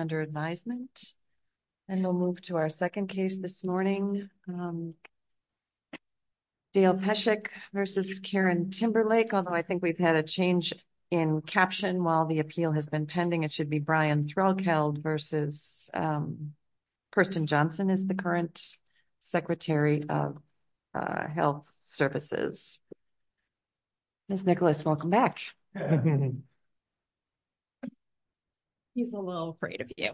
under advisement. And we'll move to our second case this morning. Dale Peshek v. Karen Timberlake, although I think we've had a change in caption while the appeal has been pending. It should be Brian Threlkeld v. Kirsten Johnson as the current Secretary of Health Services. Ms. Nicholas, welcome back. He's a little afraid of you.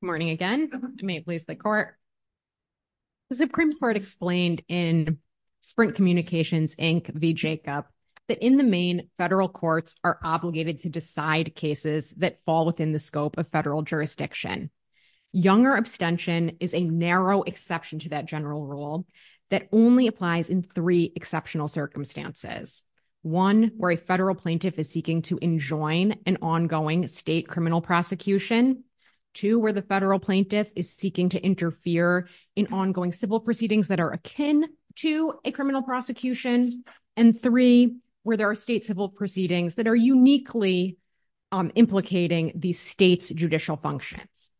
Morning again. I may please the court. The Supreme Court explained in Sprint Communications, Inc. v. Jacob, that in the main, federal courts are obligated to decide cases that fall within the scope of federal jurisdiction. Younger abstention is a narrow exception to that general rule that only applies in three exceptional circumstances. One, where a federal plaintiff is seeking to enjoin an ongoing state criminal prosecution. Two, where the federal plaintiff is seeking to interfere in ongoing civil proceedings that are akin to a criminal prosecution. And three, where there are state civil proceedings that are uniquely implicating the state's judicial functions.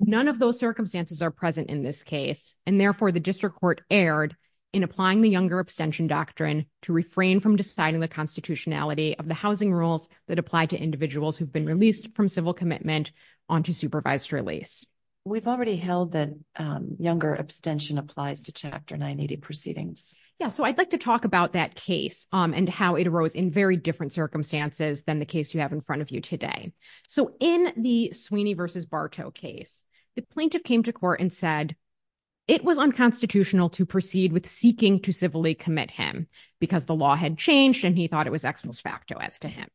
None of those circumstances are present in this case. And therefore, the district court erred in applying the younger abstention doctrine to refrain from deciding the constitutionality of the housing rules that apply to individuals who've been released from civil commitment onto supervised release. We've already held that younger abstention applies to Chapter 980 proceedings. Yeah, so I'd like to talk about that case and how it arose in very different circumstances than the case you have in front of you today. So in the Sweeney v. Bartow case, the plaintiff came to court and said it was unconstitutional to proceed with seeking to civilly commit him because the law had changed and he thought it was ex post facto as to him.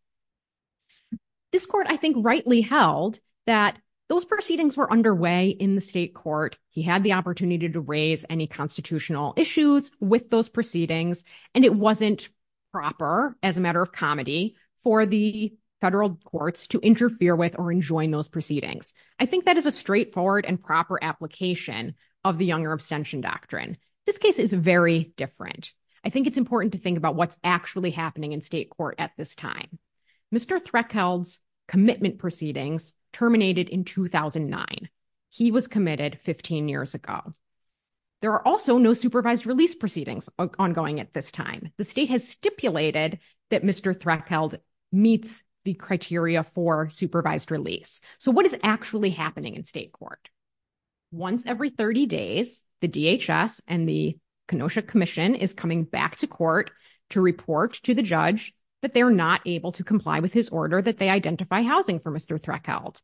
This court, I think, rightly held that those proceedings were underway in the state court. He had the opportunity to raise any constitutional issues with those proceedings, and it wasn't proper, as a matter of comedy, for the federal courts to interfere with or enjoin those proceedings. I think that is a straightforward and proper application of the younger abstention doctrine. This case is very different. I think it's important to think about what's actually happening in state court at this time. Mr. Threkeld's commitment proceedings terminated in 2009. He was committed 15 years ago. There are also no supervised release proceedings ongoing at this time. The state has stipulated that Mr. Threkeld meets the criteria for supervised release. So what is actually happening in state court? Once every 30 days, the DHS and the Kenosha Commission is coming back to court to report to the judge that they're not able to comply with his order that identify housing for Mr. Threkeld.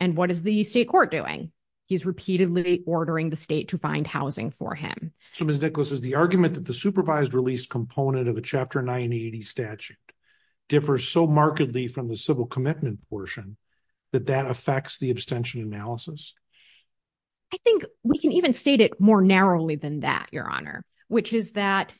And what is the state court doing? He's repeatedly ordering the state to find housing for him. So, Ms. Nicholas, is the argument that the supervised release component of the Chapter 980 statute differs so markedly from the civil commitment portion that that affects the abstention analysis? I think we can even state it more narrowly than that, Your Honor, which is that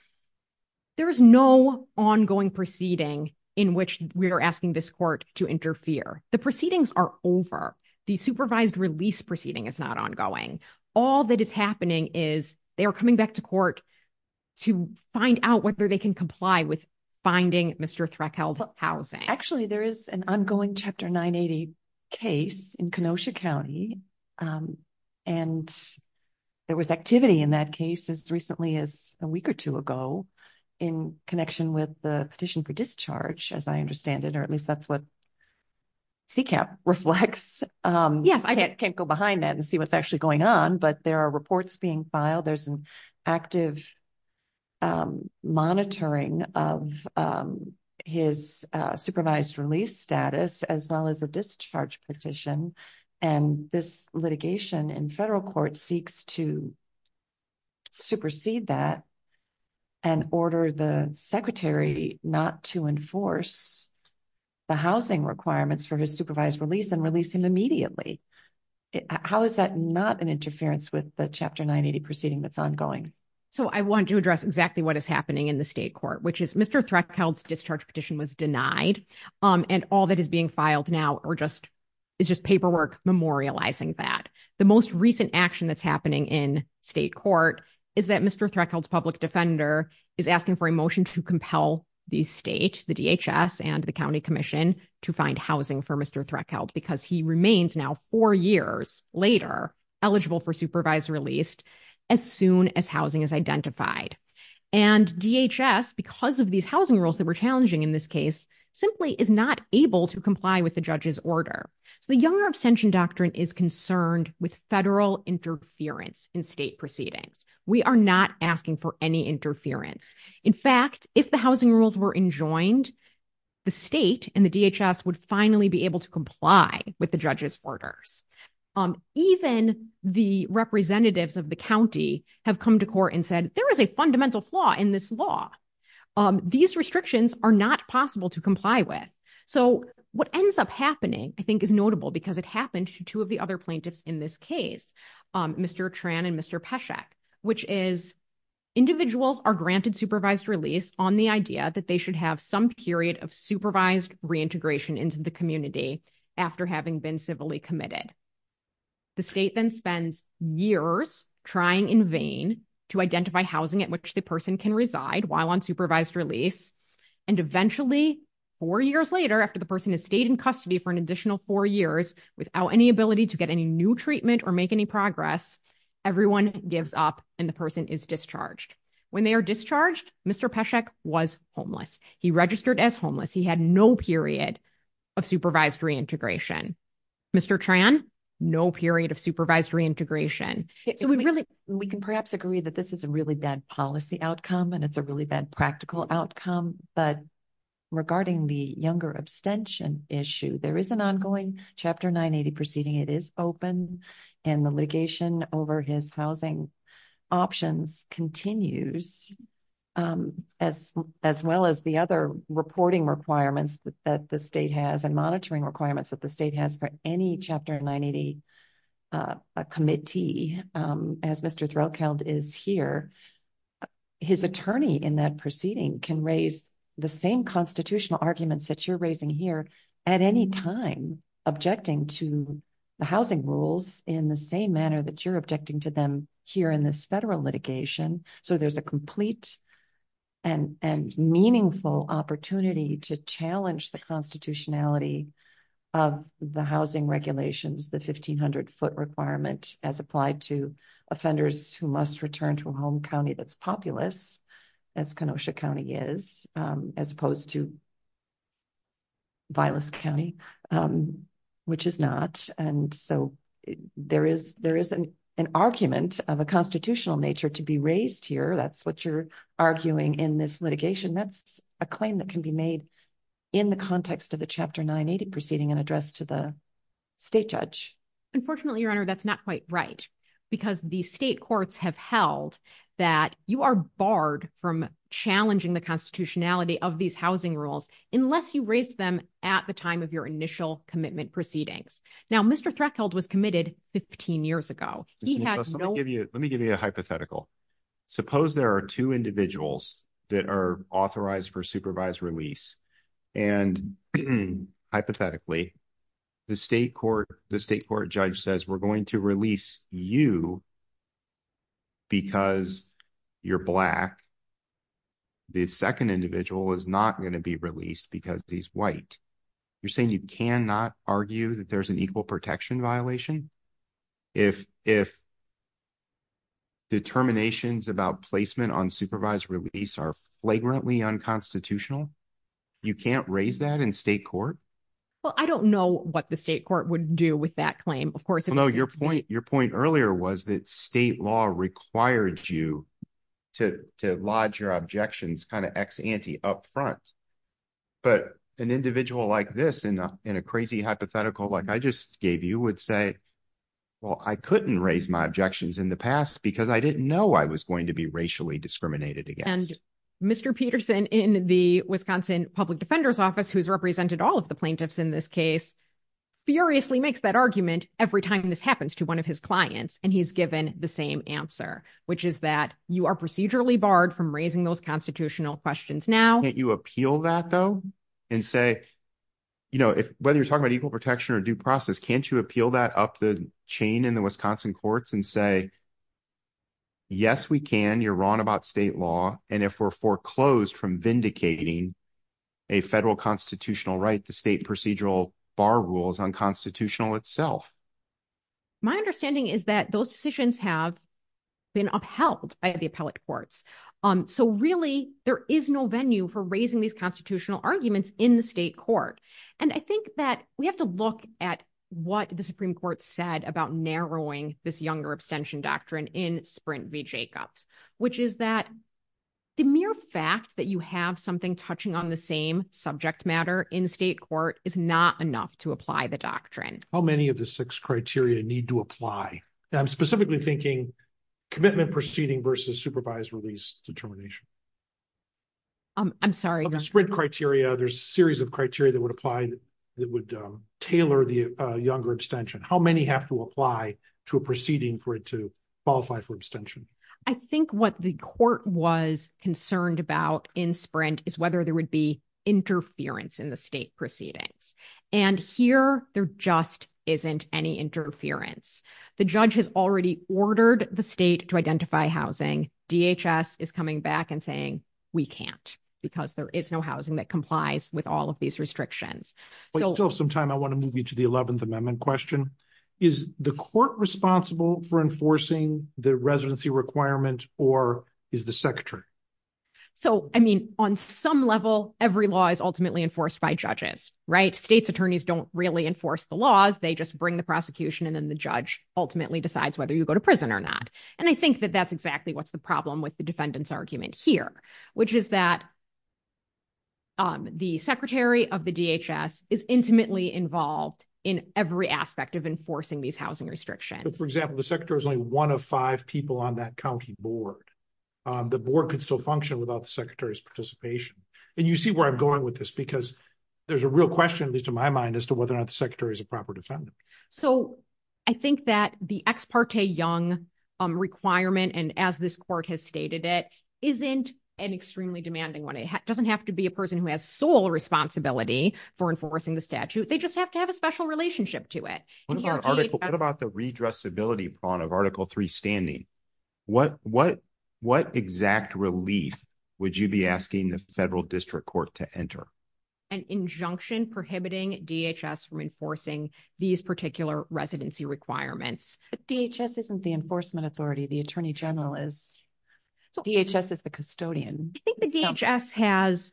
there is no ongoing proceeding in which we are asking this to interfere. The proceedings are over. The supervised release proceeding is not ongoing. All that is happening is they are coming back to court to find out whether they can comply with finding Mr. Threkeld housing. Actually, there is an ongoing Chapter 980 case in Kenosha County, and there was activity in that case as recently as a week or two ago in connection with the CCAP reflects. Yes, I can't go behind that and see what's actually going on, but there are reports being filed. There's an active monitoring of his supervised release status as well as a discharge petition. And this litigation in federal court seeks to his supervised release and release him immediately. How is that not an interference with the Chapter 980 proceeding that's ongoing? So, I want to address exactly what is happening in the state court, which is Mr. Threkeld's discharge petition was denied, and all that is being filed now is just paperwork memorializing that. The most recent action that's happening in state court is that Mr. Threkeld's public defender is asking for a motion to compel the state, the DHS, and the County Commission to find housing for Mr. Threkeld because he remains now four years later eligible for supervised release as soon as housing is identified. And DHS, because of these housing rules that were challenging in this case, simply is not able to comply with the judge's order. So, the Younger Abstention Doctrine is concerned with federal interference in state proceedings. We are not asking for any interference. In fact, if the Younger Abstention Doctrine were enjoined, the state and the DHS would finally be able to comply with the judge's orders. Even the representatives of the county have come to court and said, there is a fundamental flaw in this law. These restrictions are not possible to comply with. So, what ends up happening, I think, is notable because it happened to two of the other plaintiffs in this case, Mr. Tran and Mr. Pesek, which is, individuals are granted supervised release on the idea that they should have some period of supervised reintegration into the community after having been civilly committed. The state then spends years trying in vain to identify housing at which the person can reside while on supervised release. And eventually, four years later, after the person has stayed in custody for an additional four years without any ability to get any new treatment or make any progress, everyone gives up and the person is discharged. When they are discharged, Mr. Pesek was homeless. He registered as homeless. He had no period of supervised reintegration. Mr. Tran, no period of supervised reintegration. So, we can perhaps agree that this is a really bad policy outcome and it's a really bad practical outcome, but regarding the Younger Abstention issue, there is an ongoing Chapter 980 proceeding. It is open and the litigation over his housing options continues as well as the other reporting requirements that the state has and monitoring requirements that the state has for any Chapter 980 committee, as Mr. Threlkeld is here. His attorney in that proceeding can raise the same constitutional arguments that you're raising here at any time, objecting to the housing rules in the same manner that you're objecting to them here in this federal litigation. So, there's a complete and meaningful opportunity to challenge the constitutionality of the housing regulations, the 1,500 foot requirement as applied to offenders who must return to a home county that's populous, as Kenosha County is, as opposed to Vilas County, which is not. And so, there is an argument of a constitutional nature to be raised here. That's what you're arguing in this litigation. That's a claim that can be made in the context of the Chapter 980 proceeding and addressed to the state judge. Unfortunately, Your Honor, that's not quite right, because the state courts have held that you are barred from challenging the constitutionality of these housing rules unless you raise them at the time of your initial commitment proceedings. Now, Mr. Threlkeld was committed 15 years ago. Let me give you a hypothetical. Suppose there are two individuals that are authorized for supervised release, and hypothetically, the state court judge says, we're going to release you because you're black. The second individual is not going to be released because he's white. You're saying you cannot argue that there's an equal protection violation? If determinations about placement on supervised release are flagrantly unconstitutional, you can't raise that in state court? Well, I don't know what the state court would do with that claim, of course. No, your point earlier was that state law required you to lodge your objections kind of ex-ante up front. But an individual like this, in a crazy hypothetical like I just gave you, would say, well, I couldn't raise my objections in the past because I didn't know I was going to be racially discriminated against. And Mr. Peterson in the Wisconsin Public Defender's Office, who's represented all of the plaintiffs in this case, furiously makes that argument every time this happens to one of his clients. And he's given the same answer, which is that you are procedurally barred from raising those constitutional questions now. Can't you appeal that, though, and say, whether you're talking about equal protection or due process, can't you appeal that up the chain in the Wisconsin courts and say, yes, we can. You're wrong about state law. And if we're foreclosed from vindicating a federal constitutional right, the state procedural bar rule is unconstitutional itself. My understanding is that those decisions have been upheld by the appellate courts. So really, there is no venue for raising these constitutional arguments in the state court. And I think that we said about narrowing this younger abstention doctrine in Sprint v. Jacobs, which is that the mere fact that you have something touching on the same subject matter in state court is not enough to apply the doctrine. How many of the six criteria need to apply? I'm specifically thinking commitment proceeding versus supervised release determination. I'm sorry. Sprint criteria, there's a series of criteria that would apply that would tailor the younger abstention. How many have to apply to a proceeding for it to qualify for abstention? I think what the court was concerned about in Sprint is whether there would be interference in the state proceedings. And here, there just isn't any interference. The judge has already ordered the state to identify housing. DHS is coming back and saying we can't because there is no housing that complies with all of these restrictions. But you still have some time. I want to move you to the 11th Amendment question. Is the court responsible for enforcing the residency requirement, or is the secretary? So, I mean, on some level, every law is ultimately enforced by judges, right? State's attorneys don't really enforce the laws. They just bring the prosecution, and then the judge ultimately decides whether you go to prison or not. And I think that that's exactly what's the problem with the defendant's argument here, which is that the secretary of the DHS is intimately involved in every aspect of enforcing these housing restrictions. For example, the secretary is only one of five people on that county board. The board could still function without the secretary's participation. And you see where I'm going with this because there's a real question, at least in my mind, as to whether or not the secretary is a proper defendant. So, I think that the ex parte young requirement, and as this court has stated it, isn't an extremely demanding one. It doesn't have to be a person who has sole responsibility for enforcing the statute. They just have to have a special relationship to it. What about the redressability prong of Article 3 standing? What exact relief would you be asking the federal district court to enter? An injunction prohibiting DHS from enforcing these particular residency requirements. But DHS isn't the enforcement authority. The attorney general is. DHS is the custodian. I think the DHS has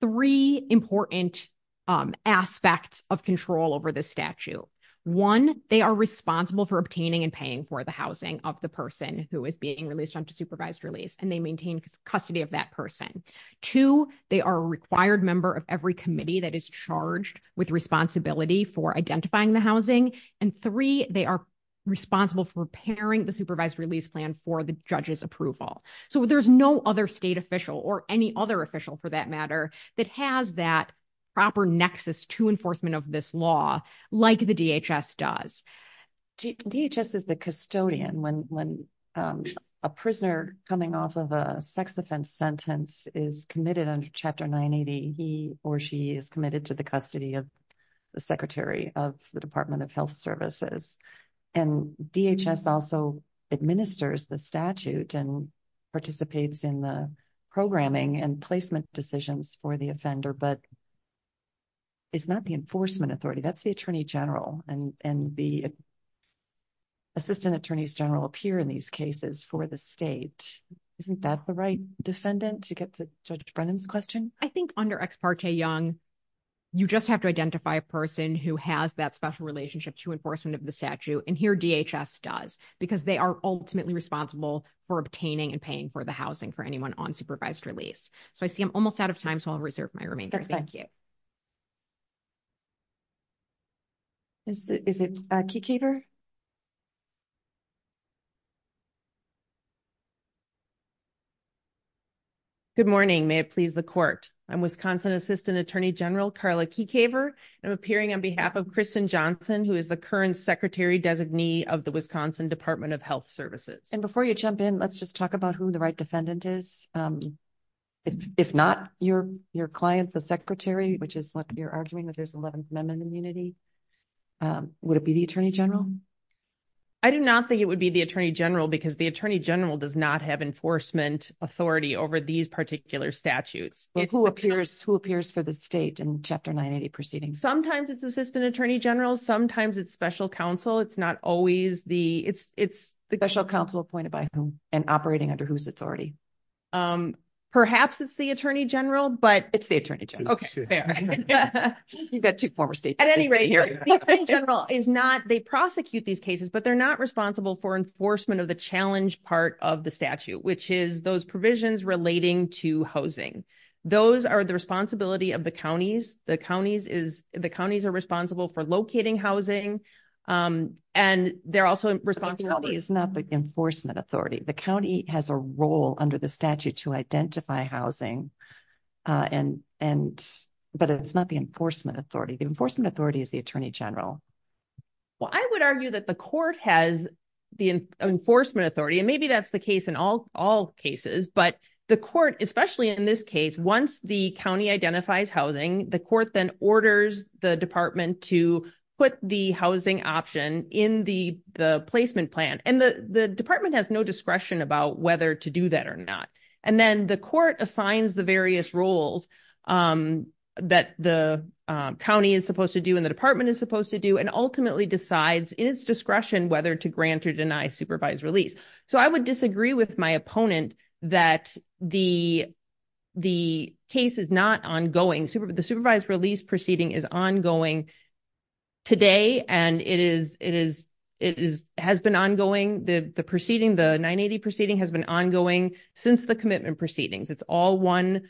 three important aspects of control over this statute. One, they are responsible for obtaining and paying for the housing of the person who is being released on supervised release, and they maintain custody of that person. Two, they are a required member of every committee that is charged with responsibility for identifying the housing. And three, they are responsible for preparing the supervised release plan for the judge's approval. So, there's no other state official, or any other official for that matter, that has that proper nexus to enforcement of this law like the DHS does. DHS is the custodian. When a prisoner coming off of a sex offense sentence is committed under Chapter 980, he or she is committed to the custody of the Secretary of the Department of Health Services. And DHS also administers the statute and participates in the programming and placement decisions for the offender, but it's not the enforcement authority. That's the attorney general, and the assistant attorneys general appear in these cases for the state. Isn't that the right defendant to get to Judge Brennan's question? I think under Ex parte Young, you just have to identify a person who has that special relationship to enforcement of the statute, and here DHS does, because they are ultimately responsible for obtaining and paying for the housing for anyone on supervised release. So, I see I'm almost out of time, so I'll reserve my remainder. Thank you. Is it Keekever? Good morning. May it please the court. I'm Wisconsin Assistant Attorney General Carla Keekever, and I'm appearing on behalf of Kristen Johnson, who is the current Secretary-designee of the Wisconsin Department of Health Services. And before you jump in, let's just talk about who the right defendant is. If not your client, the Secretary, which is what you're arguing, that there's 11th Amendment immunity, would it be the attorney general? I do not think it would be the attorney general, because the attorney general does not have enforcement authority over these particular statutes. But who appears for the state in Chapter 980 proceeding? Sometimes it's assistant attorney general, sometimes it's special counsel. It's not always the... It's the special counsel appointed by whom and operating under whose authority. Perhaps it's the attorney general, but... It's the attorney general. Okay, fair. You've got two former states. At any rate, the attorney general is not... They prosecute these cases, but they're not responsible for enforcement of the challenge part of the statute, which is those provisions relating to housing. Those are the responsibility of the counties. The counties are responsible for locating housing, and they're also responsible... It's not the enforcement authority. The county has a role under the statute to identify housing, but it's not the enforcement authority. The enforcement authority is the attorney general. Well, I would argue that the court has the enforcement authority, and maybe that's the case in all cases. But the court, especially in this case, once the county identifies housing, the court then orders the department to put the housing option in the placement plan. And the discretion about whether to do that or not. And then the court assigns the various roles that the county is supposed to do, and the department is supposed to do, and ultimately decides in its discretion whether to grant or deny supervised release. So I would disagree with my opponent that the case is not ongoing. The supervised release is ongoing today, and it has been ongoing. The 980 proceeding has been ongoing since the commitment proceedings. It's all one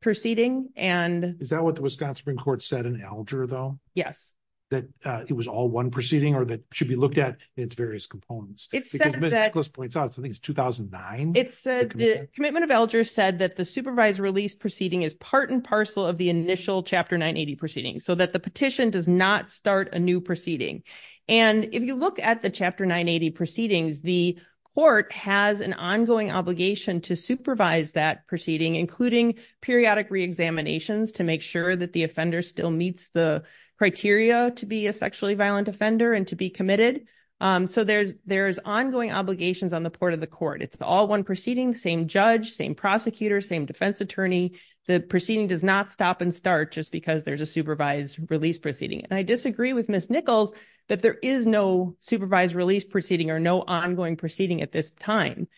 proceeding. Is that what the Wisconsin Supreme Court said in Alger, though? Yes. That it was all one proceeding or that it should be looked at in its various components? It said that... Because Ms. Nicholas points out, I think it's 2009, the commitment? The commitment of Alger said that supervised release proceeding is part and parcel of the initial Chapter 980 proceeding, so that the petition does not start a new proceeding. And if you look at the Chapter 980 proceedings, the court has an ongoing obligation to supervise that proceeding, including periodic reexaminations to make sure that the offender still meets the criteria to be a sexually violent offender and to be committed. So there's ongoing obligations on the part of the court. It's all one proceeding, same judge, same prosecutor, same defense attorney. The proceeding does not stop and start just because there's a supervised release proceeding. And I disagree with Ms. Nichols that there is no supervised release proceeding or no ongoing proceeding at this time.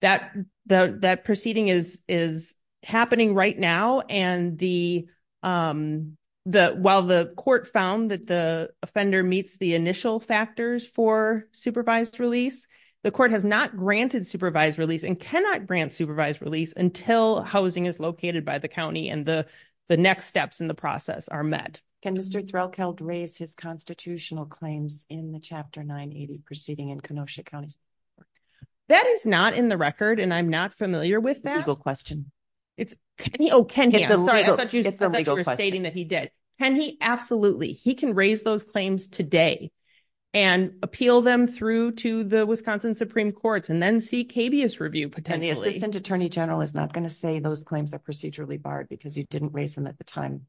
That proceeding is happening right now, and while the court found that the offender meets the initial factors for supervised release, the court has not granted supervised release and cannot grant supervised release until housing is located by the county and the next steps in the process are met. Can Mr. Threlkeld raise his constitutional claims in the Chapter 980 proceeding in Kenosha County? That is not in the record, and I'm not familiar with that. Legal question. It's... Oh, can he? I'm sorry, I thought you were stating that he did. Can he? Absolutely. He can to the Wisconsin Supreme Courts and then seek habeas review potentially. And the Assistant Attorney General is not going to say those claims are procedurally barred because you didn't raise them at the time.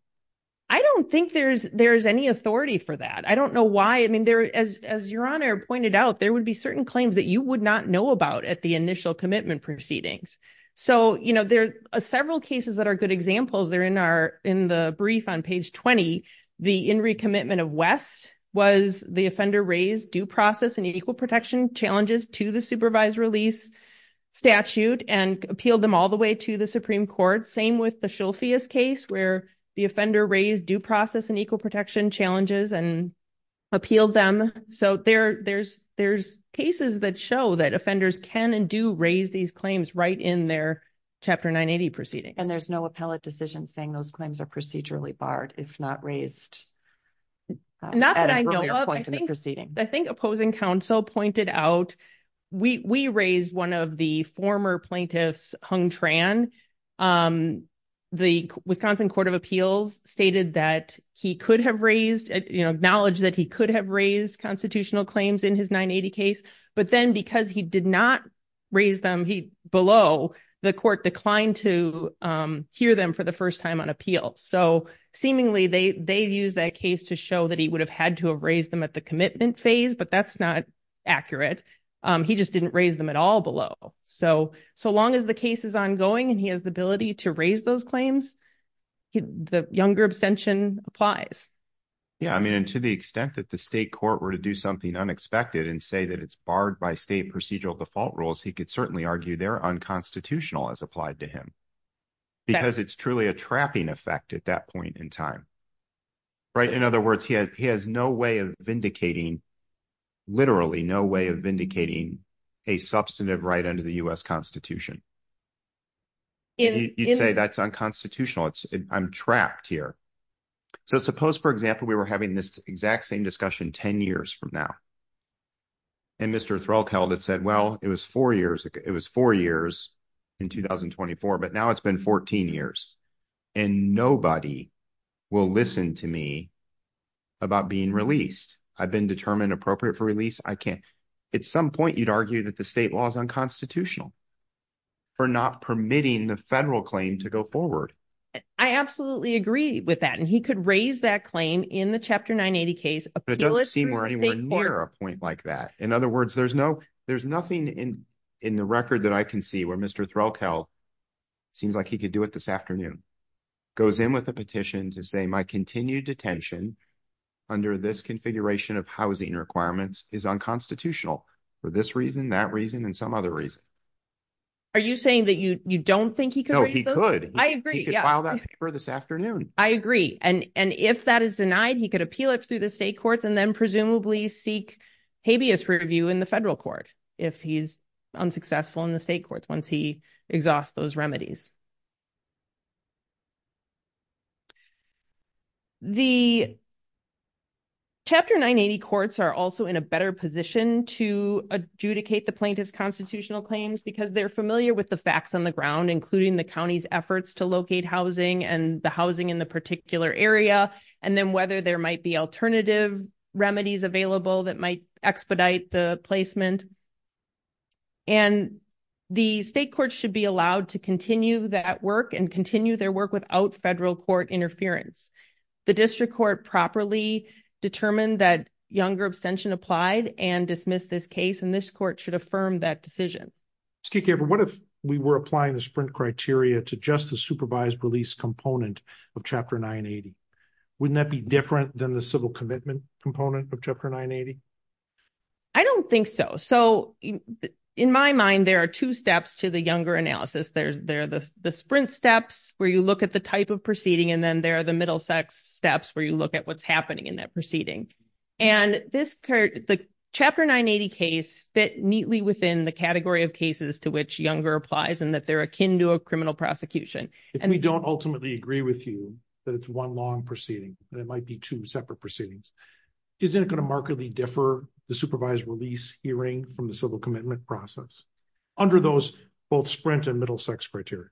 I don't think there's any authority for that. I don't know why. I mean, as Your Honor pointed out, there would be certain claims that you would not know about at the initial commitment proceedings. So, you know, there are several cases that are good examples. They're in the brief on page 20. The in re-commitment of West was the offender raised due process and equal protection challenges to the supervised release statute and appealed them all the way to the Supreme Court. Same with the Shulfius case where the offender raised due process and equal protection challenges and appealed them. So there's cases that show that offenders can and do raise these claims right in their Chapter 980 proceedings. There's no appellate decision saying those claims are procedurally barred if not raised. Not that I know of. I think opposing counsel pointed out we raised one of the former plaintiffs Hung Tran. The Wisconsin Court of Appeals stated that he could have raised, you know, knowledge that he could have raised constitutional claims in his 980 case. But then because he did not raise them below, the court declined to hear them for the first time on appeal. So seemingly they used that case to show that he would have had to have raised them at the commitment phase, but that's not accurate. He just didn't raise them at all below. So long as the case is ongoing and he has the ability to raise those claims, the younger abstention applies. Yeah, I mean, and to the extent that the state court were to do something unexpected and say that it's barred by state procedural default rules, he could certainly argue they're unconstitutional as applied to him. Because it's truly a trapping effect at that point in time. Right? In other words, he has no way of vindicating, literally no way of vindicating a substantive right under the U.S. Constitution. You'd say that's unconstitutional. I'm trapped here. So suppose, for example, we were having this exact same discussion 10 years from now. And Mr. Threlkeld had said, well, it was four years, it was four years in 2024, but now it's been 14 years and nobody will listen to me about being released. I've been determined appropriate for release. I can't. At some for not permitting the federal claim to go forward. I absolutely agree with that. And he could raise that claim in the Chapter 980 case. But it doesn't seem or anywhere near a point like that. In other words, there's no, there's nothing in the record that I can see where Mr. Threlkeld seems like he could do it this afternoon. Goes in with a petition to say my continued detention under this configuration of housing requirements is unconstitutional for this reason, that reason and some other reason. Are you saying that you don't think he could? No, he could. I agree. He could file that paper this afternoon. I agree. And if that is denied, he could appeal it through the state courts and then presumably seek habeas review in the federal court if he's unsuccessful in the state courts once he exhausts those remedies. The Chapter 980 courts are also in a better position to adjudicate the plaintiff's constitutional claims because they're familiar with the facts on the ground, including the county's efforts to locate housing and the housing in the particular area, and then whether there might be alternative remedies available that might expedite the placement. And the state courts should be allowed to continue that work and continue their work without federal court interference. The district court properly determined that younger abstention applied and this court should affirm that decision. What if we were applying the sprint criteria to just the supervised release component of Chapter 980? Wouldn't that be different than the civil commitment component of Chapter 980? I don't think so. So in my mind, there are two steps to the younger analysis. There are the sprint steps where you look at the type of proceeding and then there are the middle sex steps where you look at what's happening in that proceeding. And the Chapter 980 case fit neatly within the category of cases to which younger applies and that they're akin to a criminal prosecution. If we don't ultimately agree with you that it's one long proceeding and it might be two separate proceedings, isn't it going to markedly differ the supervised release hearing from the civil commitment process under those both sprint and middle sex criteria?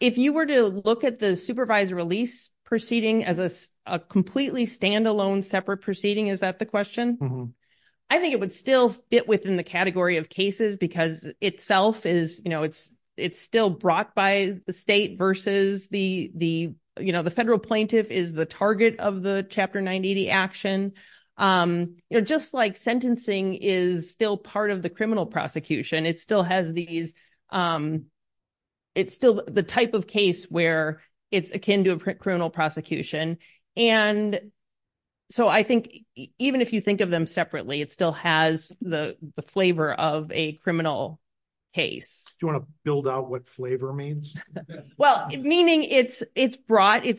If you were to look at the supervised release proceeding as a completely standalone separate proceeding, is that the question? I think it would still fit within the category of cases because itself is still brought by the state versus the federal plaintiff is the target of the Chapter 980 action. Just like sentencing is still part of the criminal prosecution, it still has the type of case where it's akin to a criminal prosecution. And so I think even if you think of them separately, it still has the flavor of a criminal case. Do you want to build out what flavor means? Well, meaning it's brought by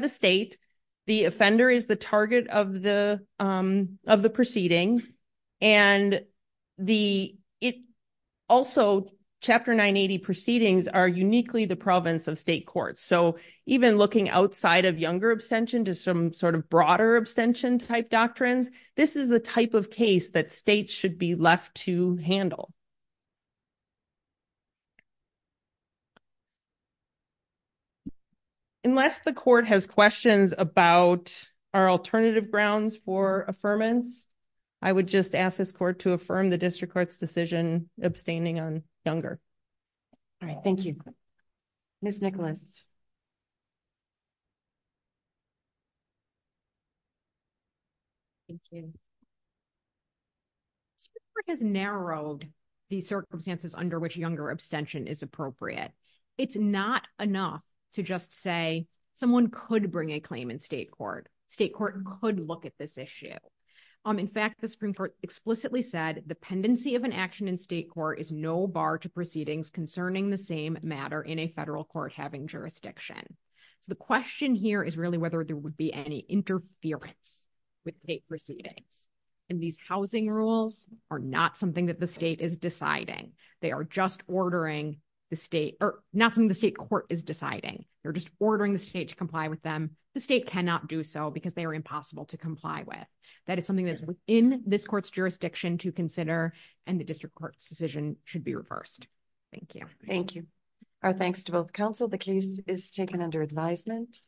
the state, the offender is the target of the proceeding, and also Chapter 980 proceedings are uniquely the province of state courts. So even looking outside of younger abstention to some sort of broader abstention type doctrines, this is the type of case that states should be left to handle. Unless the court has questions about our alternative grounds for affirmance, I would just ask this court to affirm the district court's decision abstaining on younger. All right, thank you. Ms. Nicholas. Thank you. The Supreme Court has narrowed the circumstances under which younger abstention is appropriate. It's not enough to just say someone could bring a claim in state court. State court could look at this issue. In fact, the Supreme Court explicitly said, the pendency of an action in state court is no bar to proceedings concerning the same matter in a federal court having jurisdiction. So the question here is really whether there would be any interference with state proceedings. And these housing rules are not something that the state is deciding. They are just ordering the state or not something the state court is deciding. They're just ordering the state to comply with them. The state cannot do so because they are impossible to comply with. That is something that's within this court's jurisdiction to consider, and the district court's decision should be reversed. Thank you. Thank you. Our thanks to both counsel. The case is taken under advisement.